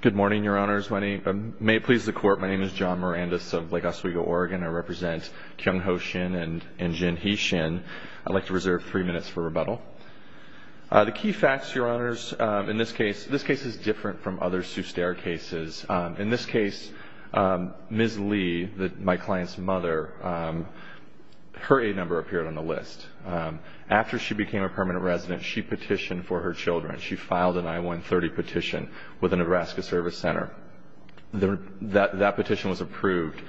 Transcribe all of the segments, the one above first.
Good morning, Your Honors. May it please the Court, my name is John Mirandus of Lake Oswego, Oregon. I represent Kyung Ho Shin and Jin Hee Shin. I'd like to reserve three minutes for rebuttal. The key facts, Your Honors, in this case, this case is different from other sous terre cases. In this case, Ms. Lee, my client's mother, her aid number appeared on the list. After she became a permanent resident, she petitioned for her children. She filed an I-130 petition with the Nebraska Service Center. That petition was approved.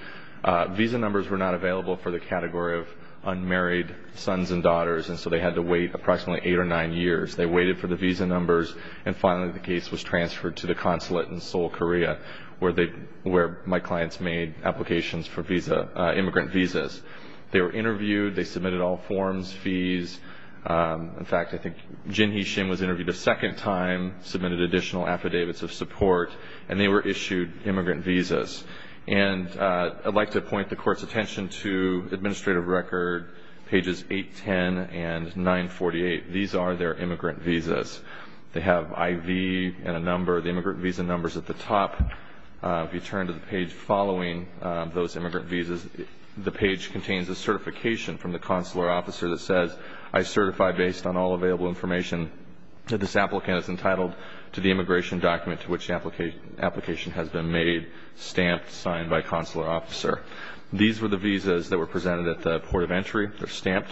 Visa numbers were not available for the category of unmarried sons and daughters, and so they had to wait approximately eight or nine years. They waited for the visa numbers, and finally the case was transferred to the consulate in Seoul, Korea, where my clients made applications for immigrant visas. They were interviewed. They submitted all forms, fees. In fact, I think Jin Hee Shin was interviewed a second time, submitted additional affidavits of support, and they were issued immigrant visas. And I'd like to point the Court's attention to administrative record, pages 810 and 948. These are their immigrant visas. They have IV and a number, the immigrant visa numbers at the top. If you turn to the page following those immigrant visas, the page contains a certification from the consular officer that says, I certify based on all available information that this applicant is entitled to the immigration document to which the application has been made, stamped, signed by consular officer. These were the visas that were presented at the port of entry. They're stamped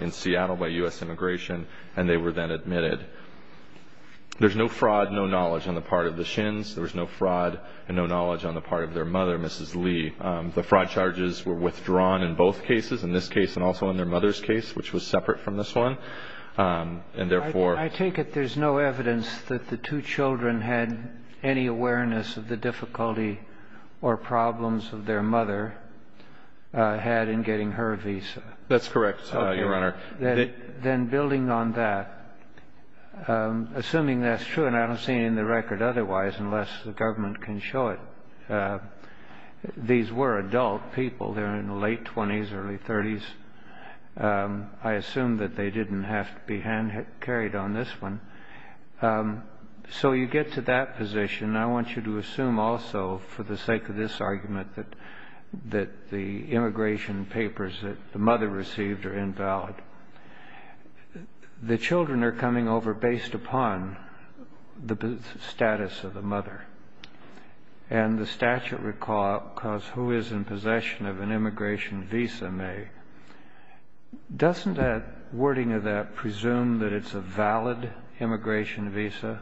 in Seattle by U.S. Immigration, and they were then admitted. There's no fraud, no knowledge on the part of the Shins. There was no fraud and no knowledge on the part of their mother, Mrs. Lee. The fraud charges were withdrawn in both cases, in this case and also in their mother's case, which was separate from this one. I take it there's no evidence that the two children had any awareness of the difficulty or problems that their mother had in getting her visa? That's correct, Your Honor. Then building on that, assuming that's true, and I don't see it in the record otherwise unless the government can show it, these were adult people. They're in the late 20s, early 30s. I assume that they didn't have to be hand-carried on this one. So you get to that position. I want you to assume also, for the sake of this argument, that the immigration papers that the mother received are invalid. The children are coming over based upon the status of the mother, and the statute recalls who is in possession of an immigration visa may. Doesn't that wording of that presume that it's a valid immigration visa?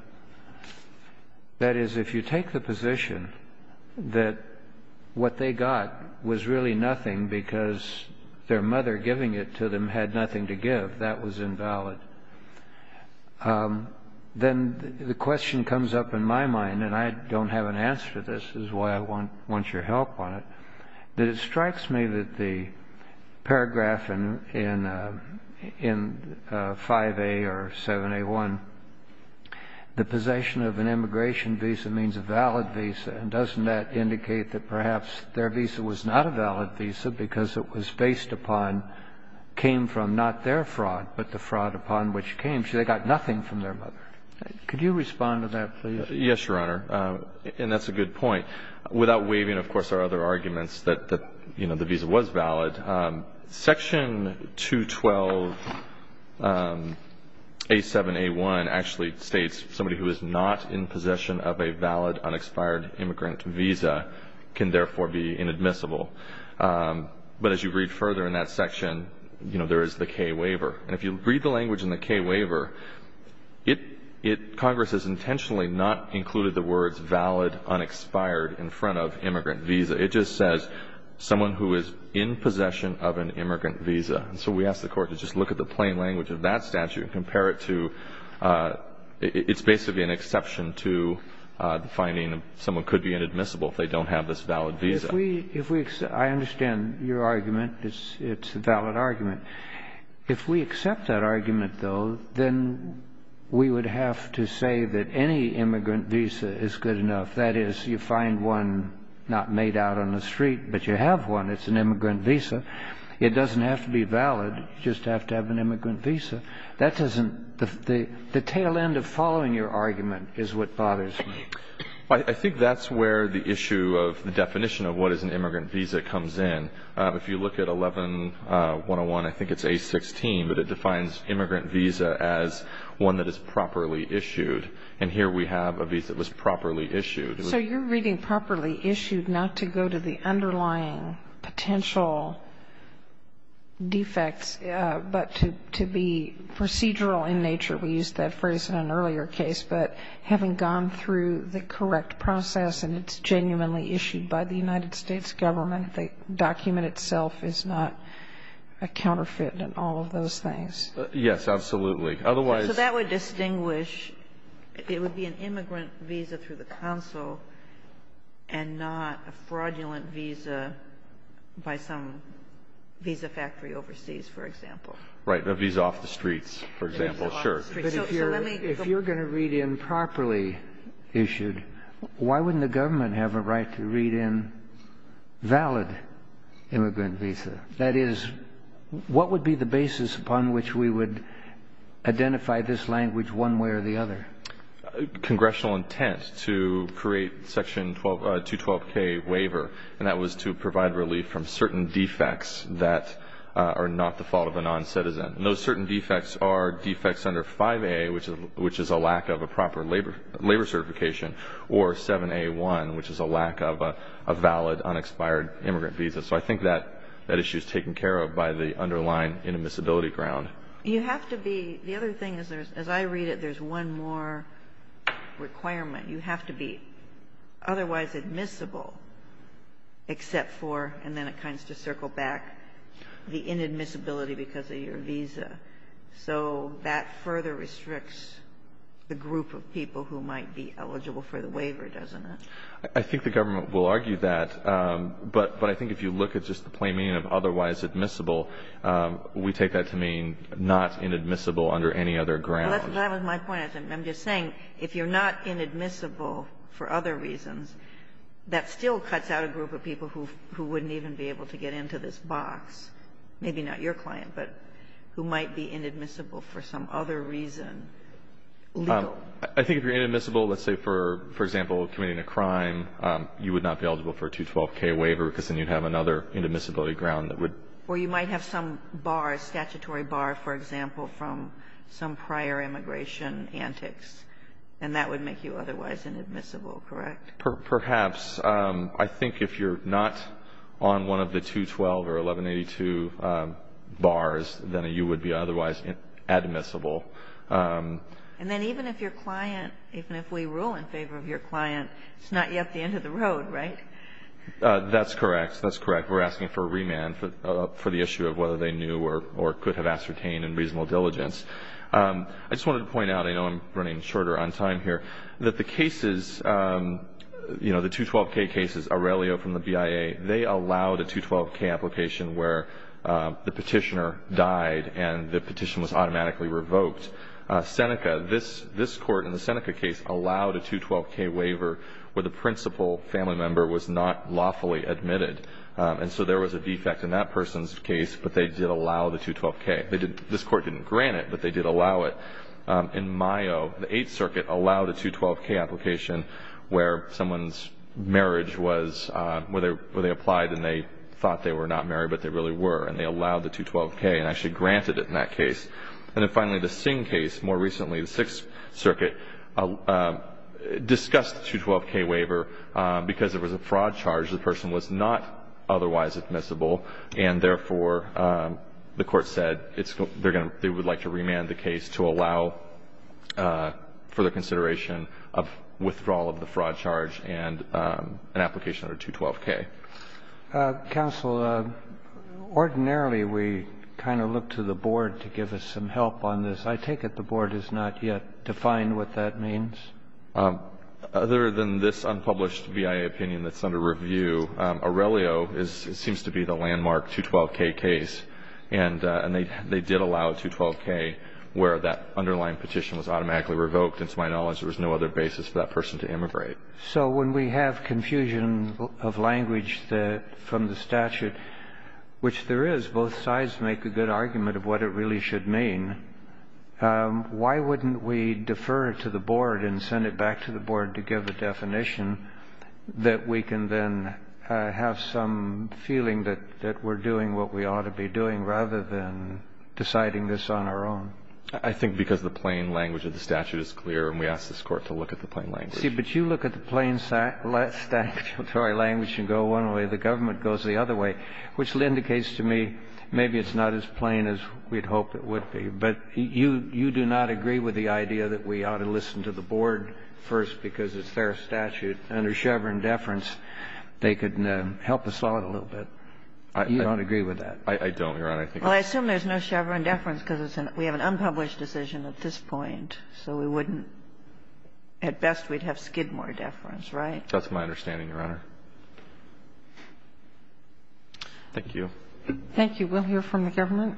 That is, if you take the position that what they got was really nothing because their mother giving it to them had nothing to give, that was invalid, then the question comes up in my mind, and I don't have an answer to this, which is why I want your help on it, that it strikes me that the paragraph in 5A or 7A1, the possession of an immigration visa means a valid visa. And doesn't that indicate that perhaps their visa was not a valid visa because it was based upon, came from not their fraud, but the fraud upon which came. So they got nothing from their mother. Could you respond to that, please? Yes, Your Honor, and that's a good point. Without waiving, of course, our other arguments that, you know, the visa was valid, Section 212A7A1 actually states somebody who is not in possession of a valid unexpired immigrant visa can therefore be inadmissible. But as you read further in that section, you know, there is the K waiver. And if you read the language in the K waiver, it, Congress has intentionally not included the words valid, unexpired in front of immigrant visa. It just says someone who is in possession of an immigrant visa. And so we ask the Court to just look at the plain language of that statute and compare it to, it's basically an exception to the finding that someone could be inadmissible if they don't have this valid visa. If we, if we, I understand your argument. It's a valid argument. If we accept that argument, though, then we would have to say that any immigrant visa is good enough. That is, you find one not made out on the street, but you have one. It's an immigrant visa. It doesn't have to be valid. You just have to have an immigrant visa. That doesn't, the tail end of following your argument is what bothers me. I think that's where the issue of the definition of what is an immigrant visa comes in. If you look at 11-101, I think it's A-16, but it defines immigrant visa as one that is properly issued. And here we have a visa that was properly issued. So you're reading properly issued not to go to the underlying potential defects, but to be procedural in nature. We used that phrase in an earlier case. But having gone through the correct process and it's genuinely issued by the United States government, the document itself is not a counterfeit and all of those things. Yes, absolutely. Otherwise ---- It would be an immigrant visa through the council and not a fraudulent visa by some visa factory overseas, for example. Right. The visa off the streets, for example. Sure. But if you're going to read in properly issued, why wouldn't the government have a right to read in valid immigrant visa? That is, what would be the basis upon which we would identify this language one way or the other? Congressional intent to create Section 212K waiver, and that was to provide relief from certain defects that are not the fault of a noncitizen. And those certain defects are defects under 5A, which is a lack of a proper labor certification, or 7A1, which is a lack of a valid, unexpired immigrant visa. So I think that issue is taken care of by the underlying inadmissibility ground. You have to be ---- the other thing is there's, as I read it, there's one more requirement. You have to be otherwise admissible except for, and then it kinds to circle back, the inadmissibility because of your visa. So that further restricts the group of people who might be eligible for the waiver, doesn't it? I think the government will argue that, but I think if you look at just the plain meaning of otherwise admissible, we take that to mean not inadmissible under any other ground. That was my point. I'm just saying, if you're not inadmissible for other reasons, that still cuts out a group of people who wouldn't even be able to get into this box, maybe not your client, but who might be inadmissible for some other reason, legal. I think if you're inadmissible, let's say, for example, committing a crime, you would not be eligible for a 212K waiver because then you'd have another inadmissibility ground that would ---- Or you might have some bar, a statutory bar, for example, from some prior immigration antics, and that would make you otherwise inadmissible, correct? Perhaps. I think if you're not on one of the 212 or 1182 bars, then you would be otherwise admissible. And then even if your client ---- even if we rule in favor of your client, it's not yet the end of the road, right? That's correct. That's correct. We're asking for a remand for the issue of whether they knew or could have ascertained in reasonable diligence. I just wanted to point out, I know I'm running shorter on time here, that the cases ---- you know, the 212K cases, Aurelio from the BIA, they allowed a 212K application where the petitioner died and the petition was automatically revoked. Seneca, this Court in the Seneca case allowed a 212K waiver where the principal family member was not lawfully admitted. And so there was a defect in that person's case, but they did allow the 212K. They did ---- this Court didn't grant it, but they did allow it. In Mayo, the Eighth Circuit allowed a 212K application where someone's marriage was ---- where they applied and they thought they were not married, but they really were, and they allowed the 212K and actually granted it in that case. And then finally, the Singh case, more recently, the Sixth Circuit, discussed the 212K waiver because it was a fraud charge. The person was not otherwise admissible, and therefore, the Court said it's going to ---- they would like to remand the case to allow further consideration of withdrawal of the fraud charge and an application under 212K. Counsel, ordinarily, we kind of look to the Board to give us some help on this. I take it the Board has not yet defined what that means? Other than this unpublished BIA opinion that's under review, Aurelio seems to be the landmark 212K case. And they did allow a 212K where that underlying petition was automatically revoked. And to my knowledge, there was no other basis for that person to immigrate. So when we have confusion of language from the statute, which there is, both sides make a good argument of what it really should mean, why wouldn't we defer it to the Board and send it back to the Board to give a definition that we can then have some feeling that we're doing what we ought to be doing rather than deciding this on our own? I think because the plain language of the statute is clear and we ask this Court to look at the plain language. See, but you look at the plain statutory language and go one way. The government goes the other way, which indicates to me maybe it's not as plain as we'd hoped it would be. But you do not agree with the idea that we ought to listen to the Board first because it's their statute. Under Chevron deference, they could help us out a little bit. You don't agree with that? I don't, Your Honor. Well, I assume there's no Chevron deference because we have an unpublished decision at this point, so we wouldn't. At best, we'd have Skidmore deference, right? That's my understanding, Your Honor. Thank you. Thank you. We'll hear from the government.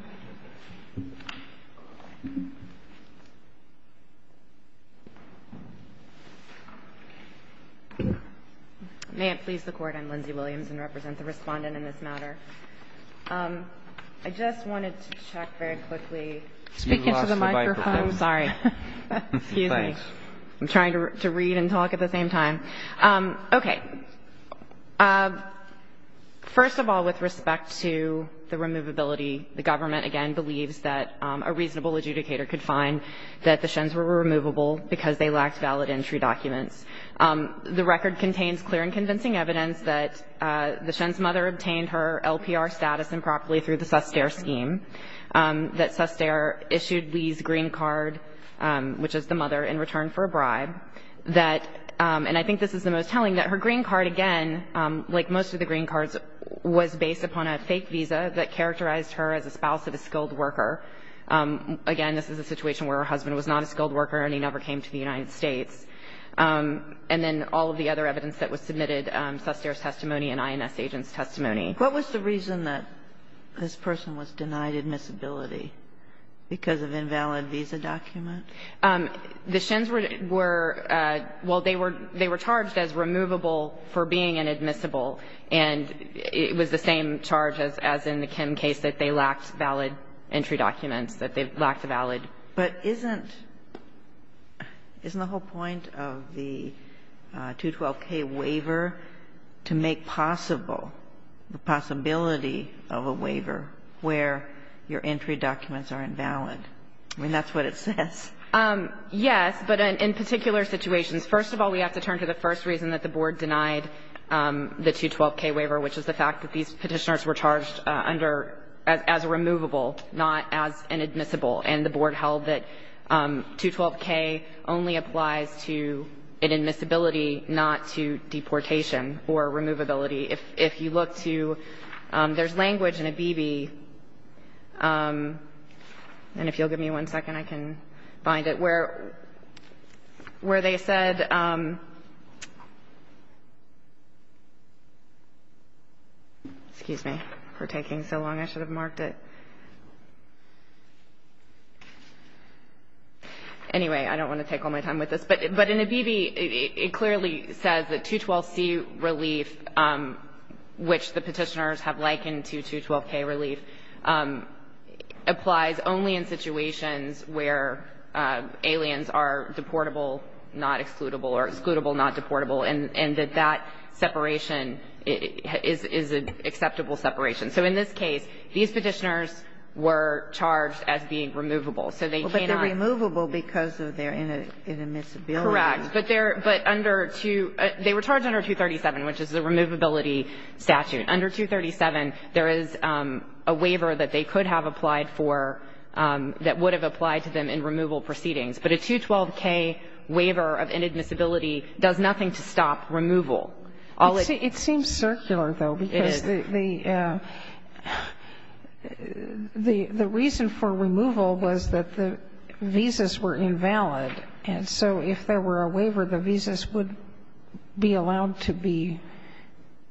May it please the Court. I'm Lindsay Williams and represent the Respondent in this matter. I just wanted to check very quickly. Speaking to the microphone. You lost the microphone. Sorry. Excuse me. Thanks. I'm trying to read and talk at the same time. Okay. First of all, with respect to the removability, the government, again, believes that a reasonable adjudicator could find that the Shens were removable because they lacked valid entry documents. The record contains clear and convincing evidence that the Shens' mother obtained her LPR status improperly through the Suster scheme, that Suster issued Lee's green card, which is the mother, in return for a bribe, that, and I think this is the most telling, that her green card, again, like most of the green cards, was based upon a fake visa that characterized her as a spouse of a skilled worker. Again, this is a situation where her husband was not a skilled worker and he never came to the United States. And then all of the other evidence that was submitted, Suster's testimony and INS agent's testimony. What was the reason that this person was denied admissibility? Because of invalid visa document? The Shens were, well, they were charged as removable for being inadmissible, and it was the same charge as in the Kim case, that they lacked valid entry documents, that they lacked a valid. But isn't the whole point of the 212k waiver to make possible the possibility of a waiver where your entry documents are invalid? I mean, that's what it says. Yes, but in particular situations. First of all, we have to turn to the first reason that the Board denied the 212k waiver, which is the fact that these Petitioners were charged under as removable, not as inadmissible. And the Board held that 212k only applies to inadmissibility, not to deportation or removability. If you look to – there's language in ABB, and if you'll give me one second, I can find it, where they said – excuse me for taking so long. I should have marked it. Anyway, I don't want to take all my time with this. But in ABB, it clearly says that 212c relief, which the Petitioners have likened to 212k relief, applies only in situations where aliens are deportable, not excludable or excludable, not deportable, and that that separation is an acceptable separation. So in this case, these Petitioners were charged as being removable. So they cannot – But they're removable because of their inadmissibility. Correct. But they're – but under 2 – they were charged under 237, which is the removability statute. Under 237, there is a waiver that they could have applied for that would have applied to them in removal proceedings. But a 212k waiver of inadmissibility does nothing to stop removal. It seems circular, though, because the reason for removal was that the visas were invalid. And so if there were a waiver, the visas would be allowed to be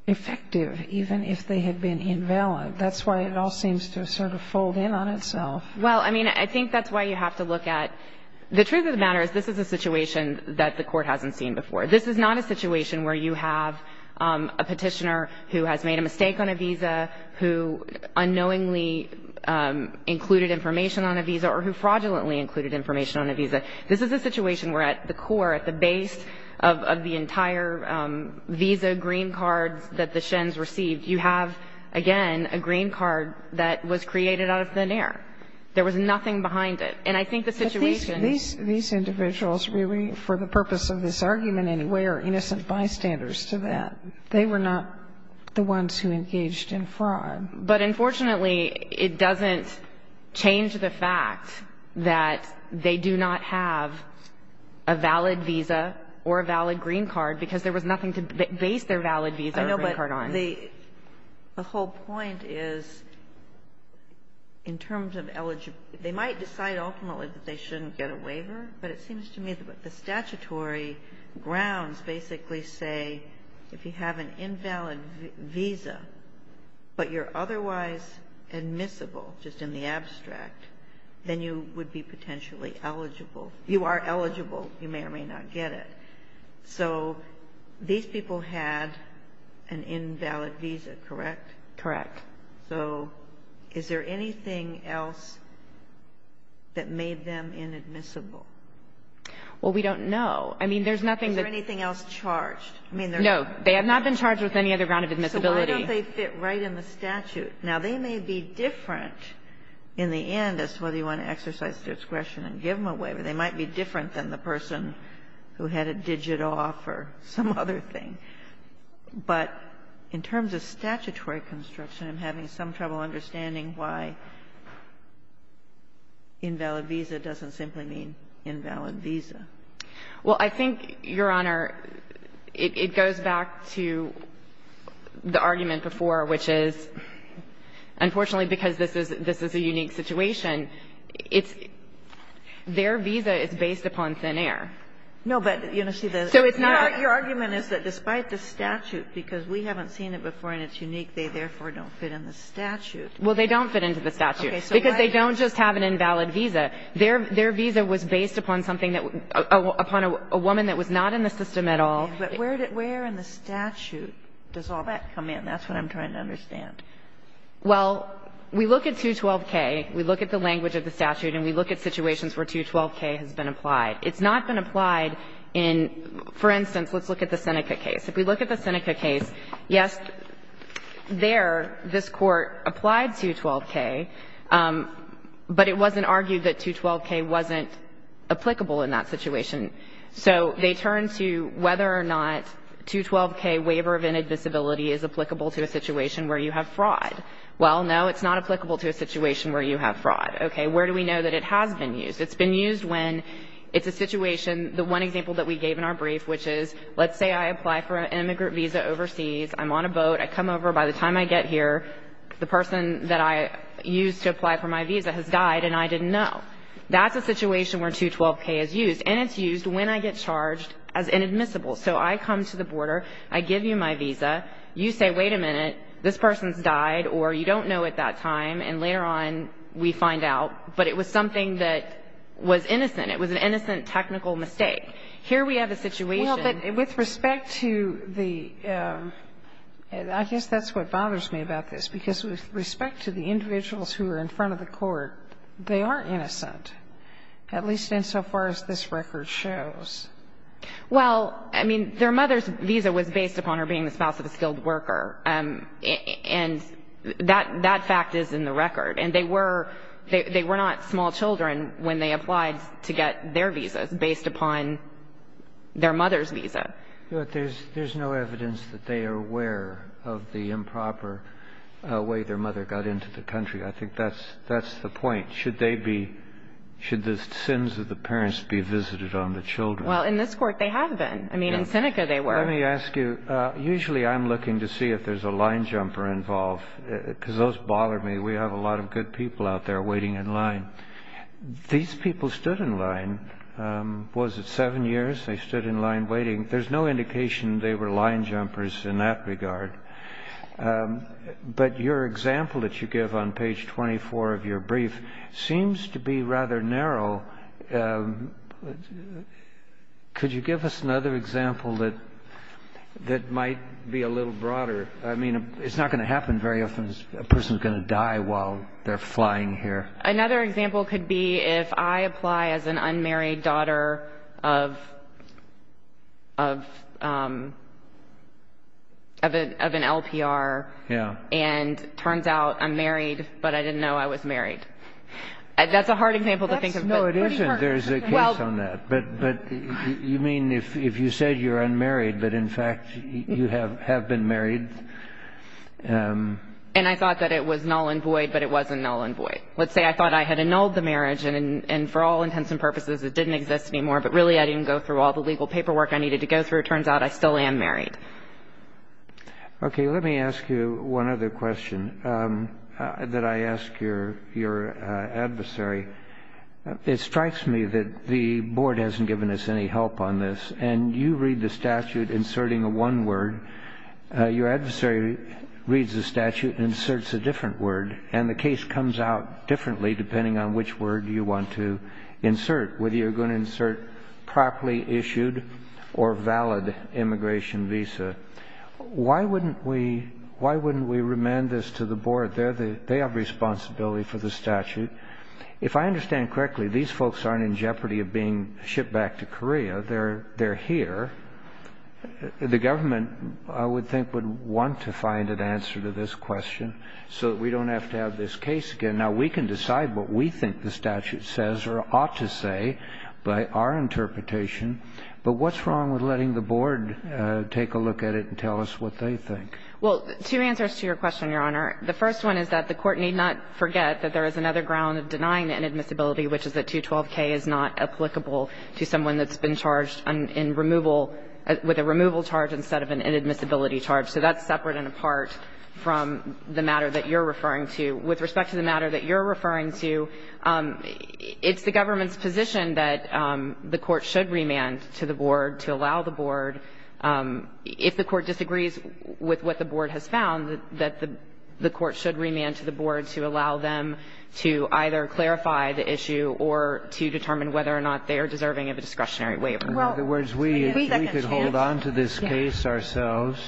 effective, even if they had been invalid. That's why it all seems to sort of fold in on itself. Well, I mean, I think that's why you have to look at – the truth of the matter is this is a situation that the Court hasn't seen before. This is not a situation where you have a Petitioner who has made a mistake on a visa, who unknowingly included information on a visa, or who fraudulently included information on a visa. This is a situation where at the core, at the base of the entire visa green cards that the shens received, you have, again, a green card that was created out of thin air. There was nothing behind it. And I think the situation – These individuals really, for the purpose of this argument anyway, are innocent bystanders to that. They were not the ones who engaged in fraud. But unfortunately, it doesn't change the fact that they do not have a valid visa or a valid green card, because there was nothing to base their valid visa or green card on. I know, but the whole point is, in terms of eligible – they might decide ultimately that they shouldn't get a waiver, but it seems to me that the statutory grounds basically say, if you have an invalid visa, but you're otherwise admissible, just in the abstract, then you would be potentially eligible. You are eligible. You may or may not get it. So these people had an invalid visa, correct? Correct. So is there anything else that made them inadmissible? Well, we don't know. I mean, there's nothing that – Is there anything else charged? I mean, there's – No. They have not been charged with any other ground of admissibility. So why don't they fit right in the statute? Now, they may be different in the end as to whether you want to exercise discretion and give them a waiver. They might be different than the person who had it digit off or some other thing. But in terms of statutory construction, I'm having some trouble understanding why invalid visa doesn't simply mean invalid visa. Well, I think, Your Honor, it goes back to the argument before, which is, unfortunately, because this is a unique situation, it's – their visa is based upon thin air. No, but, you know, see, the – But why the statute? Because we haven't seen it before and it's unique. They, therefore, don't fit in the statute. Well, they don't fit into the statute. Okay. Because they don't just have an invalid visa. Their visa was based upon something that – upon a woman that was not in the system at all. But where in the statute does all that come in? That's what I'm trying to understand. Well, we look at 212K, we look at the language of the statute, and we look at situations where 212K has been applied. It's not been applied in – for instance, let's look at the Seneca case. If we look at the Seneca case, yes, there, this Court applied 212K, but it wasn't argued that 212K wasn't applicable in that situation. So they turned to whether or not 212K waiver of inadmissibility is applicable to a situation where you have fraud. Well, no, it's not applicable to a situation where you have fraud. Okay. Where do we know that it has been used? It's been used when it's a situation – the one example that we gave in our brief, which is, let's say I apply for an immigrant visa overseas. I'm on a boat. I come over. By the time I get here, the person that I used to apply for my visa has died, and I didn't know. That's a situation where 212K is used, and it's used when I get charged as inadmissible. So I come to the border. I give you my visa. You say, wait a minute, this person's died, or you don't know at that time. And later on, we find out. But it was something that was innocent. It was an innocent technical mistake. Here we have a situation. Well, but with respect to the – I guess that's what bothers me about this, because with respect to the individuals who are in front of the court, they are innocent, at least insofar as this record shows. Well, I mean, their mother's visa was based upon her being the spouse of a skilled worker, and that fact is in the record. And they were not small children when they applied to get their visas, based upon their mother's visa. But there's no evidence that they are aware of the improper way their mother got into the country. I think that's the point. Should they be – should the sins of the parents be visited on the children? Well, in this court, they have been. I mean, in Seneca, they were. Let me ask you. Usually I'm looking to see if there's a line jumper involved, because those bother me. We have a lot of good people out there waiting in line. These people stood in line. Was it seven years they stood in line waiting? There's no indication they were line jumpers in that regard. But your example that you give on page 24 of your brief seems to be rather narrow. Could you give us another example that might be a little broader? I mean, it's not going to happen very often. A person is going to die while they're flying here. Another example could be if I apply as an unmarried daughter of an LPR. Yeah. And it turns out I'm married, but I didn't know I was married. That's a hard example to think of. No, it isn't. There's a case on that. But you mean if you said you're unmarried, but, in fact, you have been married. And I thought that it was null and void, but it wasn't null and void. Let's say I thought I had annulled the marriage, and for all intents and purposes it didn't exist anymore, but really I didn't go through all the legal paperwork I needed to go through. It turns out I still am married. Okay. Let me ask you one other question that I ask your adversary. It strikes me that the board hasn't given us any help on this, and you read the statute inserting a one word. Your adversary reads the statute and inserts a different word, and the case comes out differently depending on which word you want to insert, whether you're going to insert properly issued or valid immigration visa. Why wouldn't we remand this to the board? They have responsibility for the statute. But if I understand correctly, these folks aren't in jeopardy of being shipped back to Korea. They're here. The government, I would think, would want to find an answer to this question so that we don't have to have this case again. Now, we can decide what we think the statute says or ought to say by our interpretation, but what's wrong with letting the board take a look at it and tell us what they think? Well, two answers to your question, Your Honor. The first one is that the court need not forget that there is another ground of denying inadmissibility, which is that 212K is not applicable to someone that's been charged in removal, with a removal charge instead of an inadmissibility charge. So that's separate and apart from the matter that you're referring to. With respect to the matter that you're referring to, it's the government's position that the court should remand to the board to allow the board. If the court disagrees with what the board has found, that the court should remand to the board to allow them to either clarify the issue or to determine whether or not they are deserving of a discretionary waiver. In other words, we could hold on to this case ourselves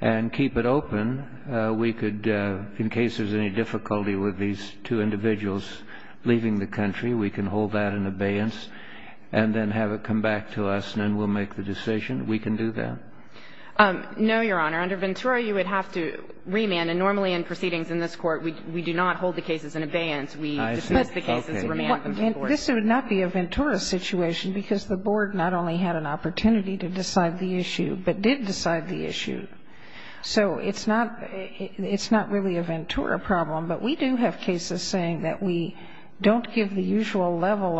and keep it open. We could, in case there's any difficulty with these two individuals leaving the country, we can hold that in abeyance and then have it come back to us, and then we'll make the decision. We can do that? No, Your Honor. Under Ventura, you would have to remand. And normally in proceedings in this Court, we do not hold the cases in abeyance. We dismiss the cases and remand them to the board. And this would not be a Ventura situation because the board not only had an opportunity to decide the issue, but did decide the issue. So it's not really a Ventura problem, but we do have cases saying that we don't Yes, Your Honor.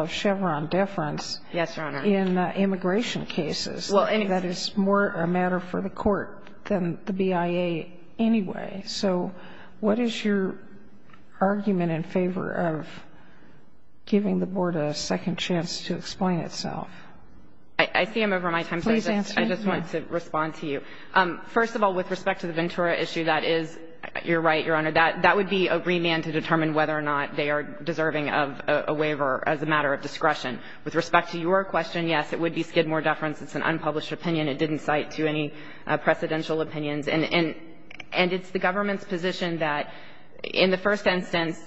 for the court than the BIA anyway. So what is your argument in favor of giving the board a second chance to explain itself? I see I'm over my time. Please answer. I just wanted to respond to you. First of all, with respect to the Ventura issue, that is, you're right, Your Honor, that would be a remand to determine whether or not they are deserving of a waiver as a matter of discretion. With respect to your question, yes, it would be Skidmore deference. It's an unpublished opinion. It didn't cite to any precedential opinions. And it's the government's position that, in the first instance,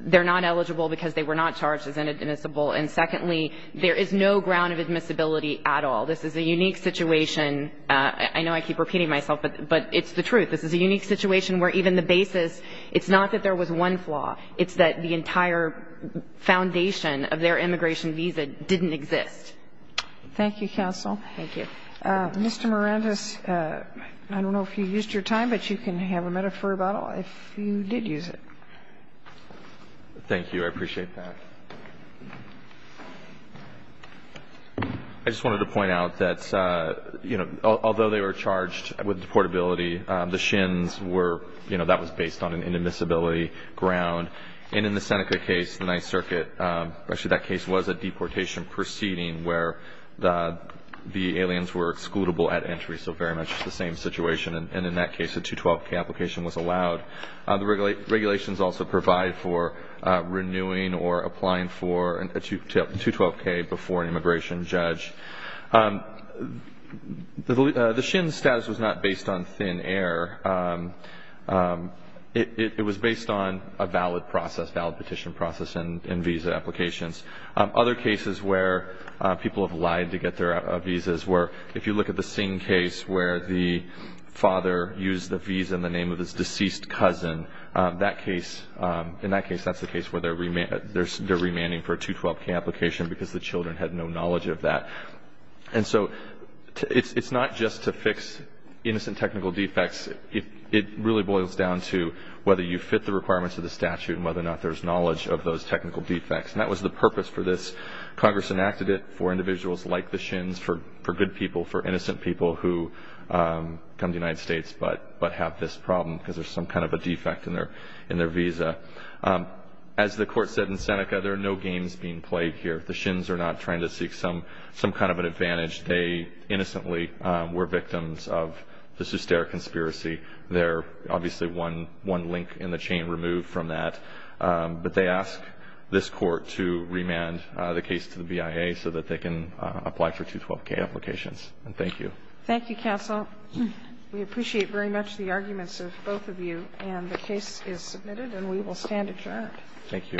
they're not eligible because they were not charged as inadmissible. And secondly, there is no ground of admissibility at all. This is a unique situation. I know I keep repeating myself, but it's the truth. This is a unique situation where even the basis, it's not that there was one flaw. It's that the entire foundation of their immigration visa didn't exist. Thank you, counsel. Thank you. Mr. Morandis, I don't know if you used your time, but you can have a metaphor about if you did use it. Thank you. I appreciate that. I just wanted to point out that, you know, although they were charged with deportability, the SHINs were, you know, that was based on an inadmissibility ground. And in the Seneca case, the Ninth Circuit, actually that case was a deportation proceeding where the aliens were excludable at entry, so very much the same situation. And in that case, a 212K application was allowed. The regulations also provide for renewing or applying for a 212K before an immigration judge. The SHIN status was not based on thin air. It was based on a valid process, a valid petition process and visa applications. Other cases where people have lied to get their visas were if you look at the Singh case where the father used the visa in the name of his deceased cousin, in that case that's the case where they're remanding for a 212K application because the children had no knowledge of that. And so it's not just to fix innocent technical defects. It really boils down to whether you fit the requirements of the statute and whether or not there's knowledge of those technical defects. And that was the purpose for this. Congress enacted it for individuals like the SHINs, for good people, for innocent people who come to the United States but have this problem because there's some kind of a defect in their visa. As the court said in Seneca, there are no games being played here. The SHINs are not trying to seek some kind of an advantage. They innocently were victims of this hysteric conspiracy. There's obviously one link in the chain removed from that. But they ask this court to remand the case to the BIA so that they can apply for 212K applications. And thank you. Thank you, counsel. We appreciate very much the arguments of both of you. And the case is submitted and we will stand adjourned. Thank you.